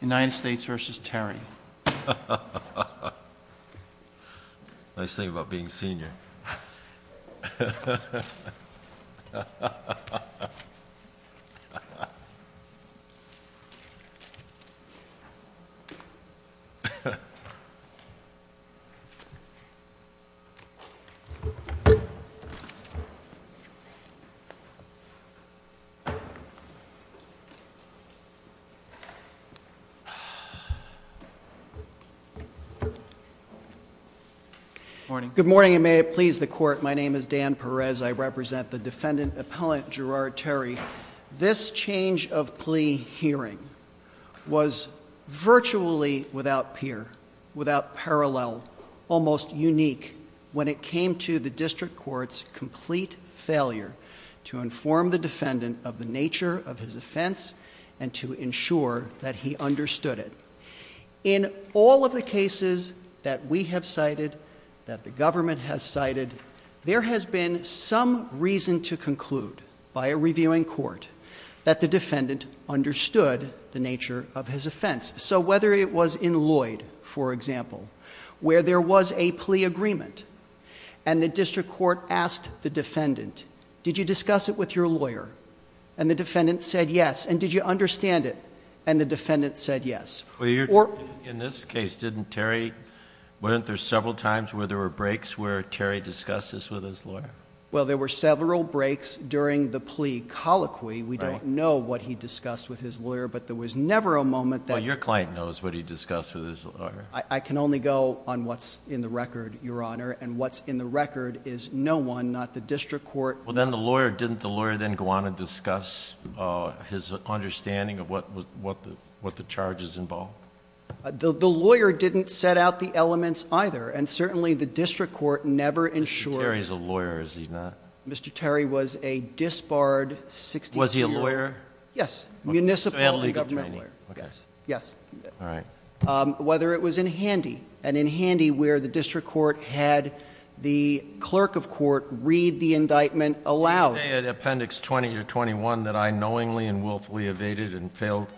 United States v. Terry Nice thing about being a senior Good morning and may it please the court my name is Dan Perez I represent the defendant appellant Gerard Terry this change of plea hearing was virtually without peer without parallel almost unique when it came to the district court's complete failure to inform the defendant of the nature of his offense and to ensure that he understood it in all of the cases that we have cited that the government has cited there has been some reason to conclude by a reviewing court that the defendant understood the nature of his offense so whether it was in Lloyd for example where there was a plea agreement and the district court asked the defendant did you discuss it with your lawyer and the defendant said yes and did you understand it and the defendant said yes or in this case didn't Terry weren't there several times where there were breaks where Terry discusses with his lawyer well there were several breaks during the plea colloquy we don't know what he discussed with his lawyer but there was never a moment that your client knows what he discussed with his lawyer I can only go on what's in the record your honor and what's in the record is no one not the district court well then the defendant didn't know what the charges involved the lawyer didn't set out the elements either and certainly the district court never ensure he's a lawyer as he's not Mr. Terry was a disbarred 60 was he a lawyer yes municipal and government yes yes all right whether it was in handy and in handy where the district court had the clerk of court read the indictment allowed appendix 20 to 21 that I knowingly and willfully evaded and failed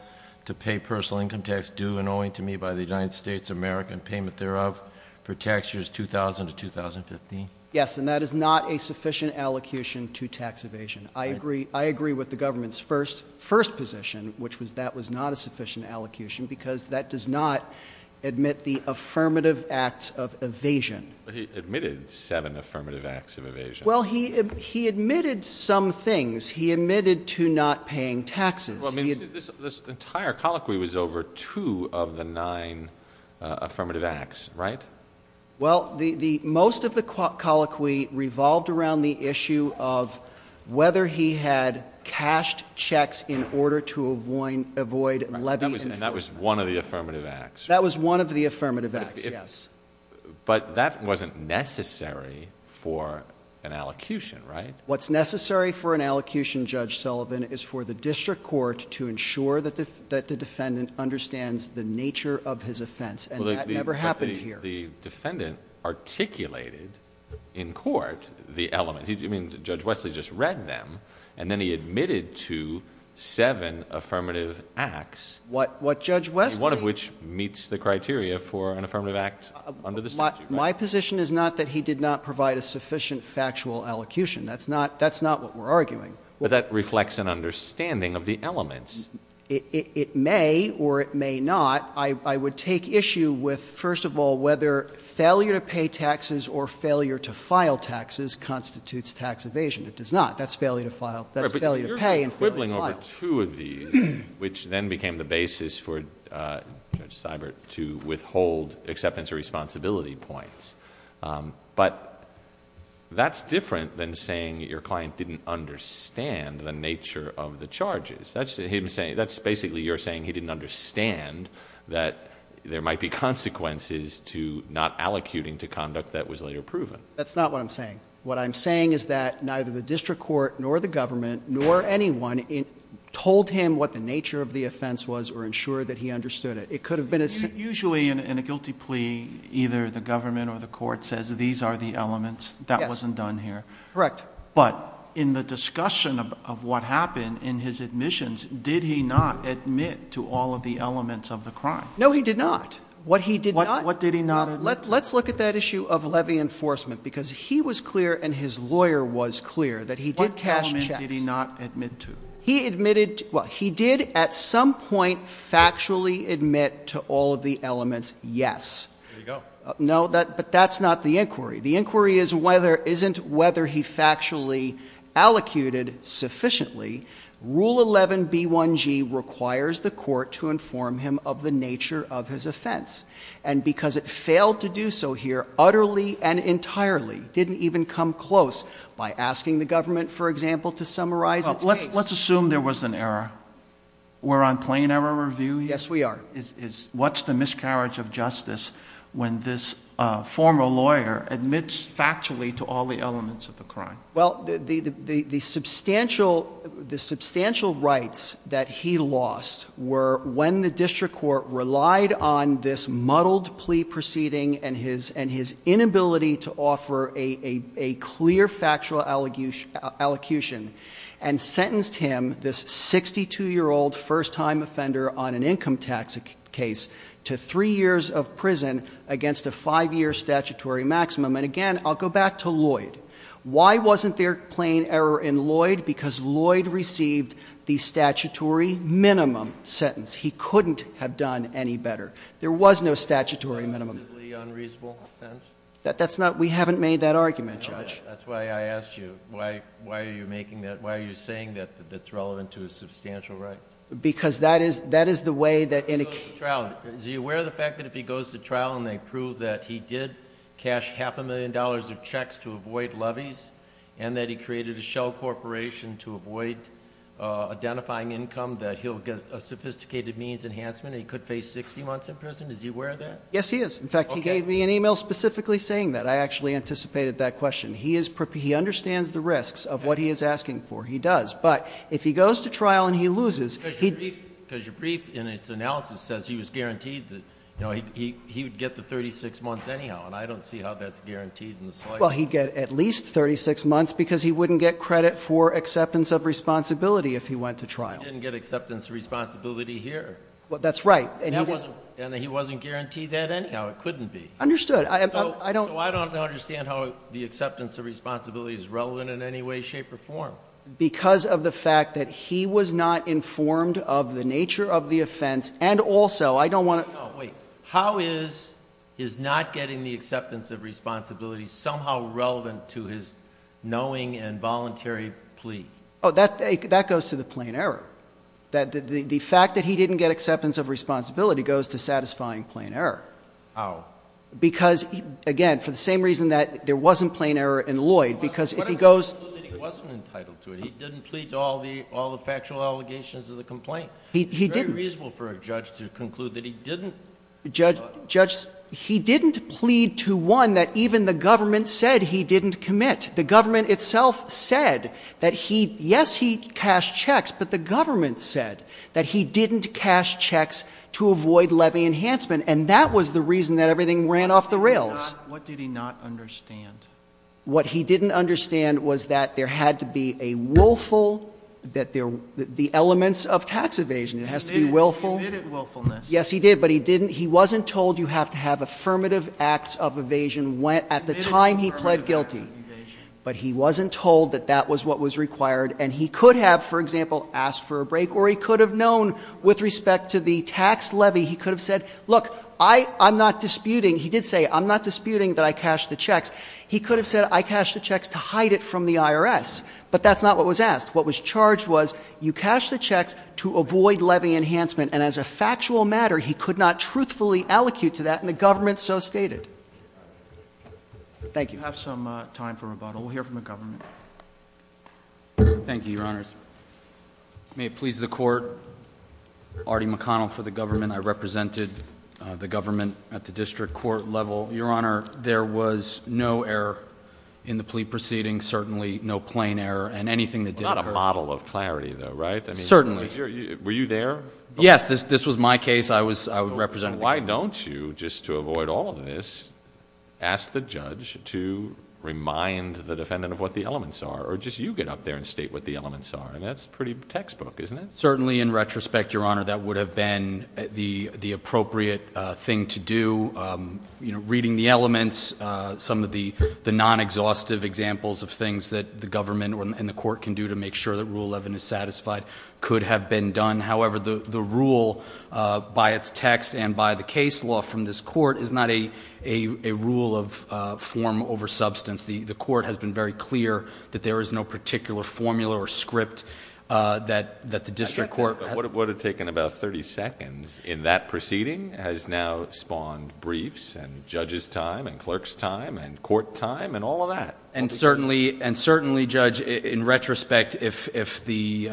to pay personal income tax due and owing to me by the United States of America and payment thereof for tax years 2000 to 2015 yes and that is not a sufficient allocution to tax evasion I agree I agree with the government's first first position which was that was not a sufficient allocution because that does not admit the affirmative acts of evasion he admitted seven affirmative acts of evasion well he he admitted some things he admitted to not paying taxes I mean this entire colloquy was over two of the nine affirmative acts right well the most of the colloquy revolved around the issue of whether he had cashed checks in order to avoid avoid levy and that was one of the affirmative acts yes but that wasn't necessary for an allocution right what's necessary for an allocution judge Sullivan is for the district court to ensure that the defendant understands the nature of his offense and that never happened here the defendant articulated in court the element he didn't mean to judge Wesley just read them and then he admitted to seven affirmative acts what judge Wesley one of which meets the criteria for an affirmative act under the statute my position is not that he did not provide a sufficient factual allocution that's not that's not what we're arguing but that reflects an understanding of the elements it may or it may not I would take issue with first of all whether failure to pay taxes or failure to file taxes constitutes tax evasion it does not that's failure to file that's failure to pay and failure to file which then became the basis for judge Seibert to withhold acceptance or responsibility points but that's different than saying your client didn't understand the nature of the charges that's him saying that's basically you're saying he didn't understand that there might be what I'm saying is that neither the district court nor the government nor anyone told him what the nature of the offense was or ensure that he understood it it could have been a usually in a guilty plea either the government or the court says these are the elements that wasn't done here correct but in the discussion of what happened in his admissions did he not admit to all of the elements of the crime no he did not what he did not what did he not let's let's look at that issue of levy enforcement because he was clear and his lawyer was clear that he did cash he did not admit to he admitted well he did at some point factually admit to all of the elements yes no that but that's not the inquiry the inquiry is whether isn't whether he factually allocated sufficiently rule 11 b1g requires the court to inform him of the nature of his offense and because it failed to do so here utterly and entirely didn't even come close by asking the government for example to summarize let's assume there was an error we're on plain error review yes we are is what's the miscarriage of justice when this former lawyer admits factually to all the elements of the crime well the the the facts that he lost were when the district court relied on this muddled plea proceeding and his and his inability to offer a a a clear factual allegation allocution and sentenced him this 62 year old first time offender on an income tax case to three years of prison against a five year statutory maximum and again I'll go back to Lloyd why wasn't there plain error in Lloyd because Lloyd received the statutory minimum sentence he couldn't have done any better there was no statutory minimum unreasonable sense that that's not we haven't made that argument judge that's why I asked you why why are you making that why are you saying that that's relevant to a substantial right because that is that is the way that in a trial is he aware of the fact that if he goes to trial and they prove that he did cash half a million dollars of checks to avoid levies and that he created a shell corporation to avoid uh identifying income that he'll get a sophisticated means enhancement he could face 60 months in prison is he aware of that yes he is in fact he gave me an email specifically saying that I actually anticipated that question he is prep he understands the risks of what he is asking for he does but if he goes to trial and he loses he because your brief in its analysis says he was guaranteed that you know he he would get the 36 months anyhow and I don't see how that's guaranteed in the slightest well he'd get at least 36 months because he wouldn't get credit for acceptance of responsibility if he went to trial he didn't get acceptance responsibility here well that's right and that wasn't and he wasn't guaranteed that anyhow it couldn't be understood I have I don't I don't understand how the acceptance of responsibility is relevant in any way shape or form because of the fact that he was not informed of the nature of the offense and also I don't want to wait how is is not getting the acceptance of responsibility somehow relevant to his knowing and voluntary plea oh that that goes to the plain error that the fact that he didn't get acceptance of responsibility goes to satisfying plain error because again for the same reason that there wasn't plain error in Lloyd because he goes he didn't plead to all the all the factual allegations of the complaint he he didn't reasonable for a judge to conclude that he didn't judge judge he didn't plead to one that even the government said he didn't commit the government itself said that he yes he cashed checks but the government said that he didn't cash checks to avoid levy enhancement and that was the reason that everything ran off the rails what did he not understand what he didn't understand was that there had to be a willful that there were the elements of tax evasion it has to be willful willfulness yes he did but he didn't he wasn't told you have to have affirmative acts of evasion went at the time he pled guilty but he wasn't told that that was what was required and he could have for example asked for a break or he could have known with respect to the tax levy he could have said look I I'm not disputing he did say I'm not disputing that I cashed the checks he could have said I cashed the checks to hide it from the IRS but that's not what was asked what was charged was you cashed the checks to avoid levy enhancement and as a factual matter he could not truthfully allocate to that and the government so stated thank you have some time for the court at the district court level your honor there was no error in the plea proceeding certainly no plain error and anything that did not a model of clarity though right certainly were you there yes this this was my case I was I would represent why don't you just to avoid all of this ask the judge to remind the defendant of what the certainly in retrospect your honor that would have been the the appropriate thing to do you know reading the elements some of the the non exhaustive examples of things that the government and the court can do to make sure that rule 11 is satisfied could have been done however the the rule by its text and by the case law from this court is not a a a rule of form over substance the the court has been very clear that there is no particular formula or script that that the district court would have taken about 30 seconds in that proceeding has now spawned briefs and judges time and clerks time and court time and all of that and certainly and certainly judge in retrospect if if the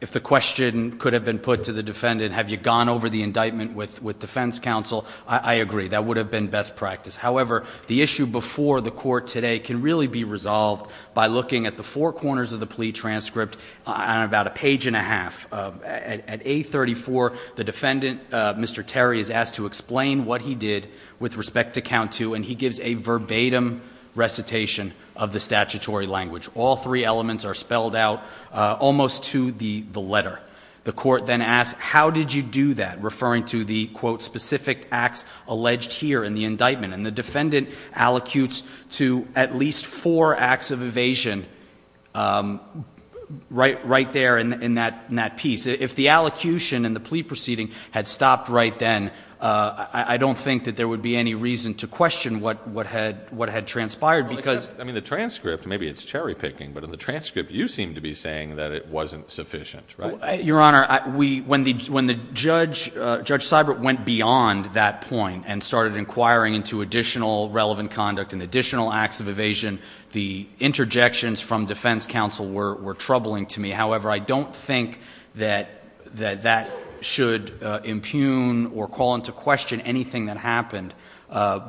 if the question could have been put to the defendant have you gone over the indictment with with defense counsel I agree that would have been best practice however the issue before the court today can really be resolved by looking at the four corners of the plea transcript on about a page and a half at 834 the defendant Mr. Terry is asked to explain what he did with respect to count two and he gives a verbatim recitation of the statutory language all three elements are spelled out almost to the the letter the court then ask how did you do that referring to the quote specific acts alleged here in the indictment and the defendant allocutes to at least four acts of evasion right right there in in that in that piece if the allocution and the plea proceeding had stopped right then I don't think that there would be any reason to question what what had what had transpired because I mean the transcript maybe it's cherry picking but in the transcript you seem to be saying that it wasn't sufficient right your honor we when the when the judge judge cyber went beyond that point and started inquiring into additional relevant conduct and additional acts of evasion the interjections from defense counsel were troubling to me however I don't think that that that should impugn or call into question anything that happened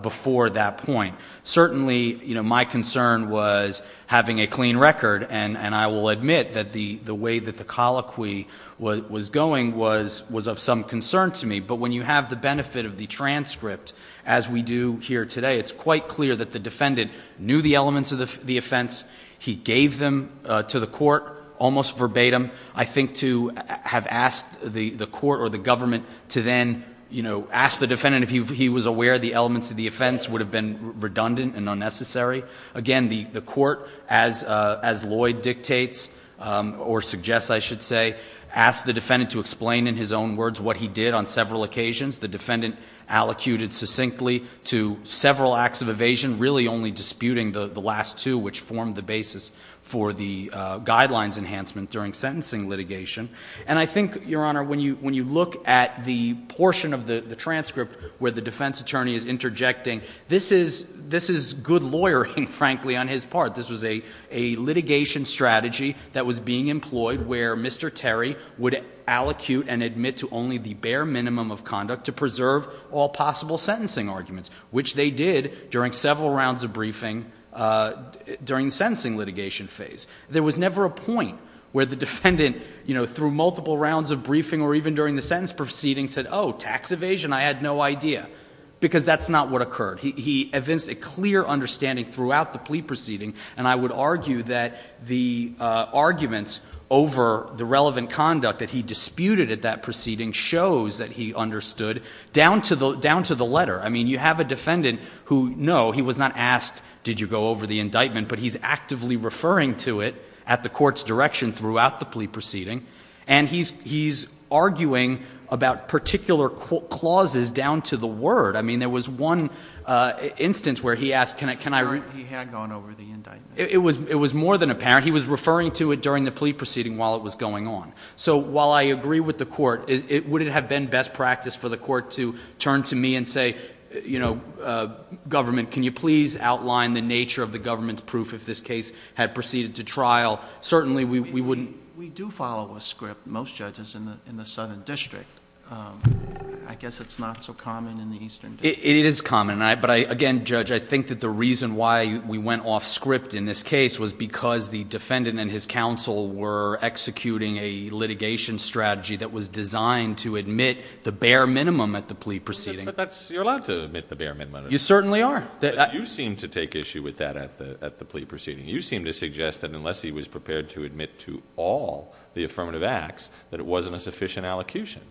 before that point certainly you know my concern was having a clean record and and I will admit that the the way that the colloquy was going was was of some concern to me but when you have the benefit of the transcript as we do here today it's quite clear that the defendant knew the elements of the the offense he gave them to the court almost verbatim I think to have asked the the court or the government to then you know ask the defendant if he was aware the elements of the offense would have been redundant and unnecessary again the the court as as Lloyd dictates or suggests I should say ask the defendant to explain in his own words what he did on several occasions the defendant allocated succinctly to several acts of evasion really only disputing the last two which formed the basis for the guidelines enhancement during sentencing litigation and I think your honor when you when you look at the portion of the the transcript where the defense attorney is interjecting this is this is good lawyering frankly on his part this was a a litigation strategy that was being employed where Mr. Terry would allocute and admit to only the bare minimum of conduct to preserve all possible sentencing arguments which they did during several rounds of briefing during the sentencing litigation phase there was never a point where the defendant you know through multiple rounds of briefing or even during the sentence proceeding said oh tax evasion I had no idea because that's not what occurred he he evinced a clear understanding throughout the plea proceeding and I would argue that the arguments over the relevant conduct that he disputed at that proceeding shows that he understood down to the down to the letter I mean you have a defendant who no he was not asked did you go over the indictment but he's actively referring to it at the court's direction throughout the plea proceeding and he's he's arguing about particular clauses down to the word I mean there was one instance where he asked can I can I read he had gone over the indictment it was it was more than apparent he was I mean it would it have been best practice for the court to turn to me and say you know government can you please outline the nature of the government's proof if this case had proceeded to trial certainly we we wouldn't we do follow a script most judges in the in the southern district I guess it's not so common in the eastern it is common I but I again judge I think that the reason why we went off script in this case was because the defendant and his counsel were executing a litigation strategy that was designed to admit the bare minimum at the plea proceeding but that's you're allowed to admit the bare minimum you certainly are that you seem to take issue with that at the at the plea proceeding you seem to suggest that unless he was prepared to admit to all the affirmative acts that it wasn't a sufficient allocution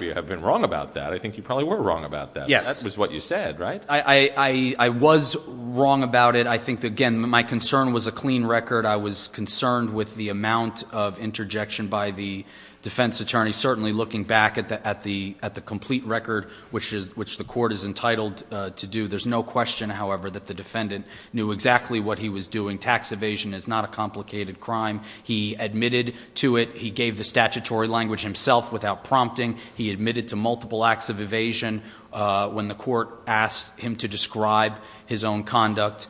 you have been wrong about that I think you probably were wrong about that yes that was what you said right I I was wrong about it I think again my concern was a clean record I was concerned with the amount of interjection by the defense attorney certainly looking back at the at the at the complete record which is which the court is entitled to do there's no question however that the defendant knew exactly what he was doing tax evasion is not a complicated crime he admitted to it he gave the statutory language himself without prompting he admitted to multiple acts of evasion when the court asked him to describe his own conduct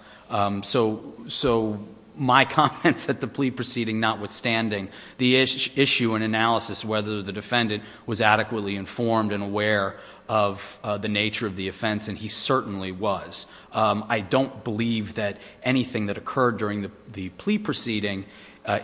so so my comments at the plea proceeding notwithstanding the issue and analysis whether the defendant was adequately informed and aware of the nature of the offense and he certainly was I don't believe that anything that occurred during the plea proceeding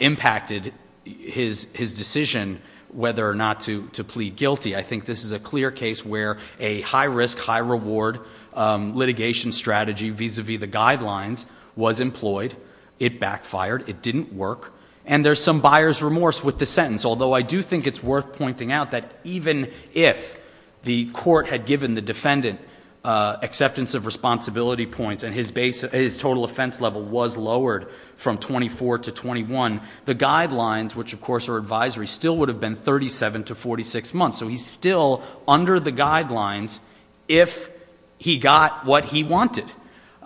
impacted his his decision whether or not to to plead guilty I think this is a clear case where a high risk high reward litigation strategy vis-a-vis the guidelines was employed it backfired it didn't work and there's some buyer's remorse with the sentence although I do think it's worth pointing out that even if the court had given the defendant acceptance of responsibility points and his base his total offense level was lowered from 24 to 21 the guidelines which of course are advisory still would have been 37 to 46 months so he's still under the guidelines if he got what he wanted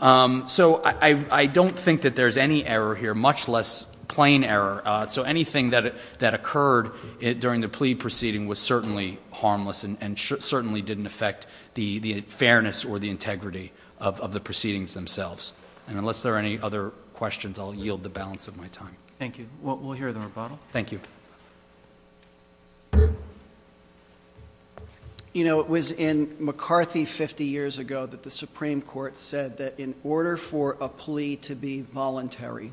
so I don't think that there's any error here much less plain error so anything that that occurred it during the plea proceeding was certainly harmless and certainly didn't affect the fairness or the integrity of the proceedings themselves and unless there are any other questions I'll yield the balance of my time thank you we'll hear the rebuttal thank you you know it was in McCarthy 50 years ago that the Supreme Court said that in order for a plea to be voluntary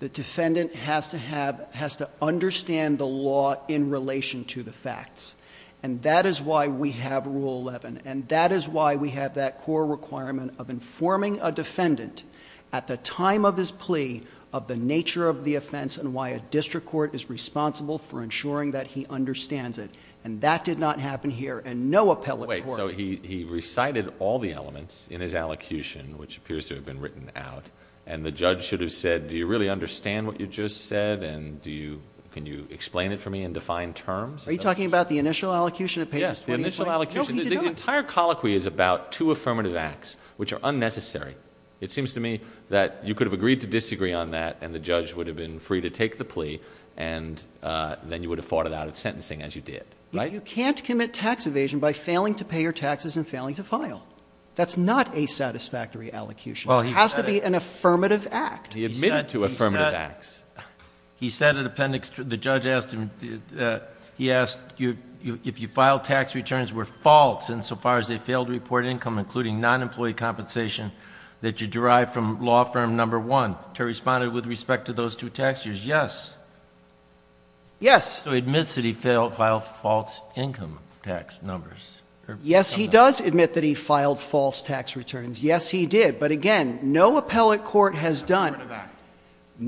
the defendant has to have in relation to the facts and that is why we have rule 11 and that is why we have that core requirement of informing a defendant at the time of his plea of the nature of the offense and why a district court is responsible for ensuring that he understands it and that did not happen here and no appellate wait so he recited all the elements in his allocution which appears to have been written out and the judge should have said do you really understand what you just said and do you can you explain it for me and define terms are you talking about the initial allocution of pages 20 the entire colloquy is about two affirmative acts which are unnecessary it seems to me that you could have agreed to disagree on that and the judge would have been free to take the plea and then you would have fought it out at sentencing as you did right you can't commit tax evasion by He admitted to affirmative acts. He said in the appendix the judge asked him he asked if you filed tax returns were false and so far as they failed to report income including non-employee compensation that you derived from law firm number one to respond with respect to those two tax years yes. Yes. So he admits that he filed false income tax numbers. Yes he does admit that he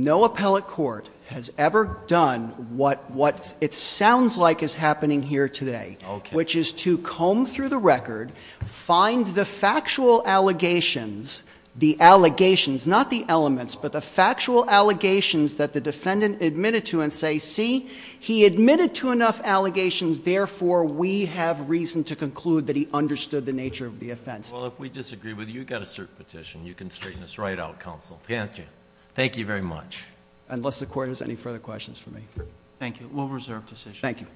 No appellate court has ever done what what it sounds like is happening here today which is to comb through the record find the factual allegations the allegations not the elements but the factual allegations that the defendant admitted to and say see he admitted to enough allegations therefore we have reason to conclude that he understood the nature of the offense. Well if we disagree Thank you very much. Unless the court has any further questions for me. Thank you. We'll reserve decision. Thank you.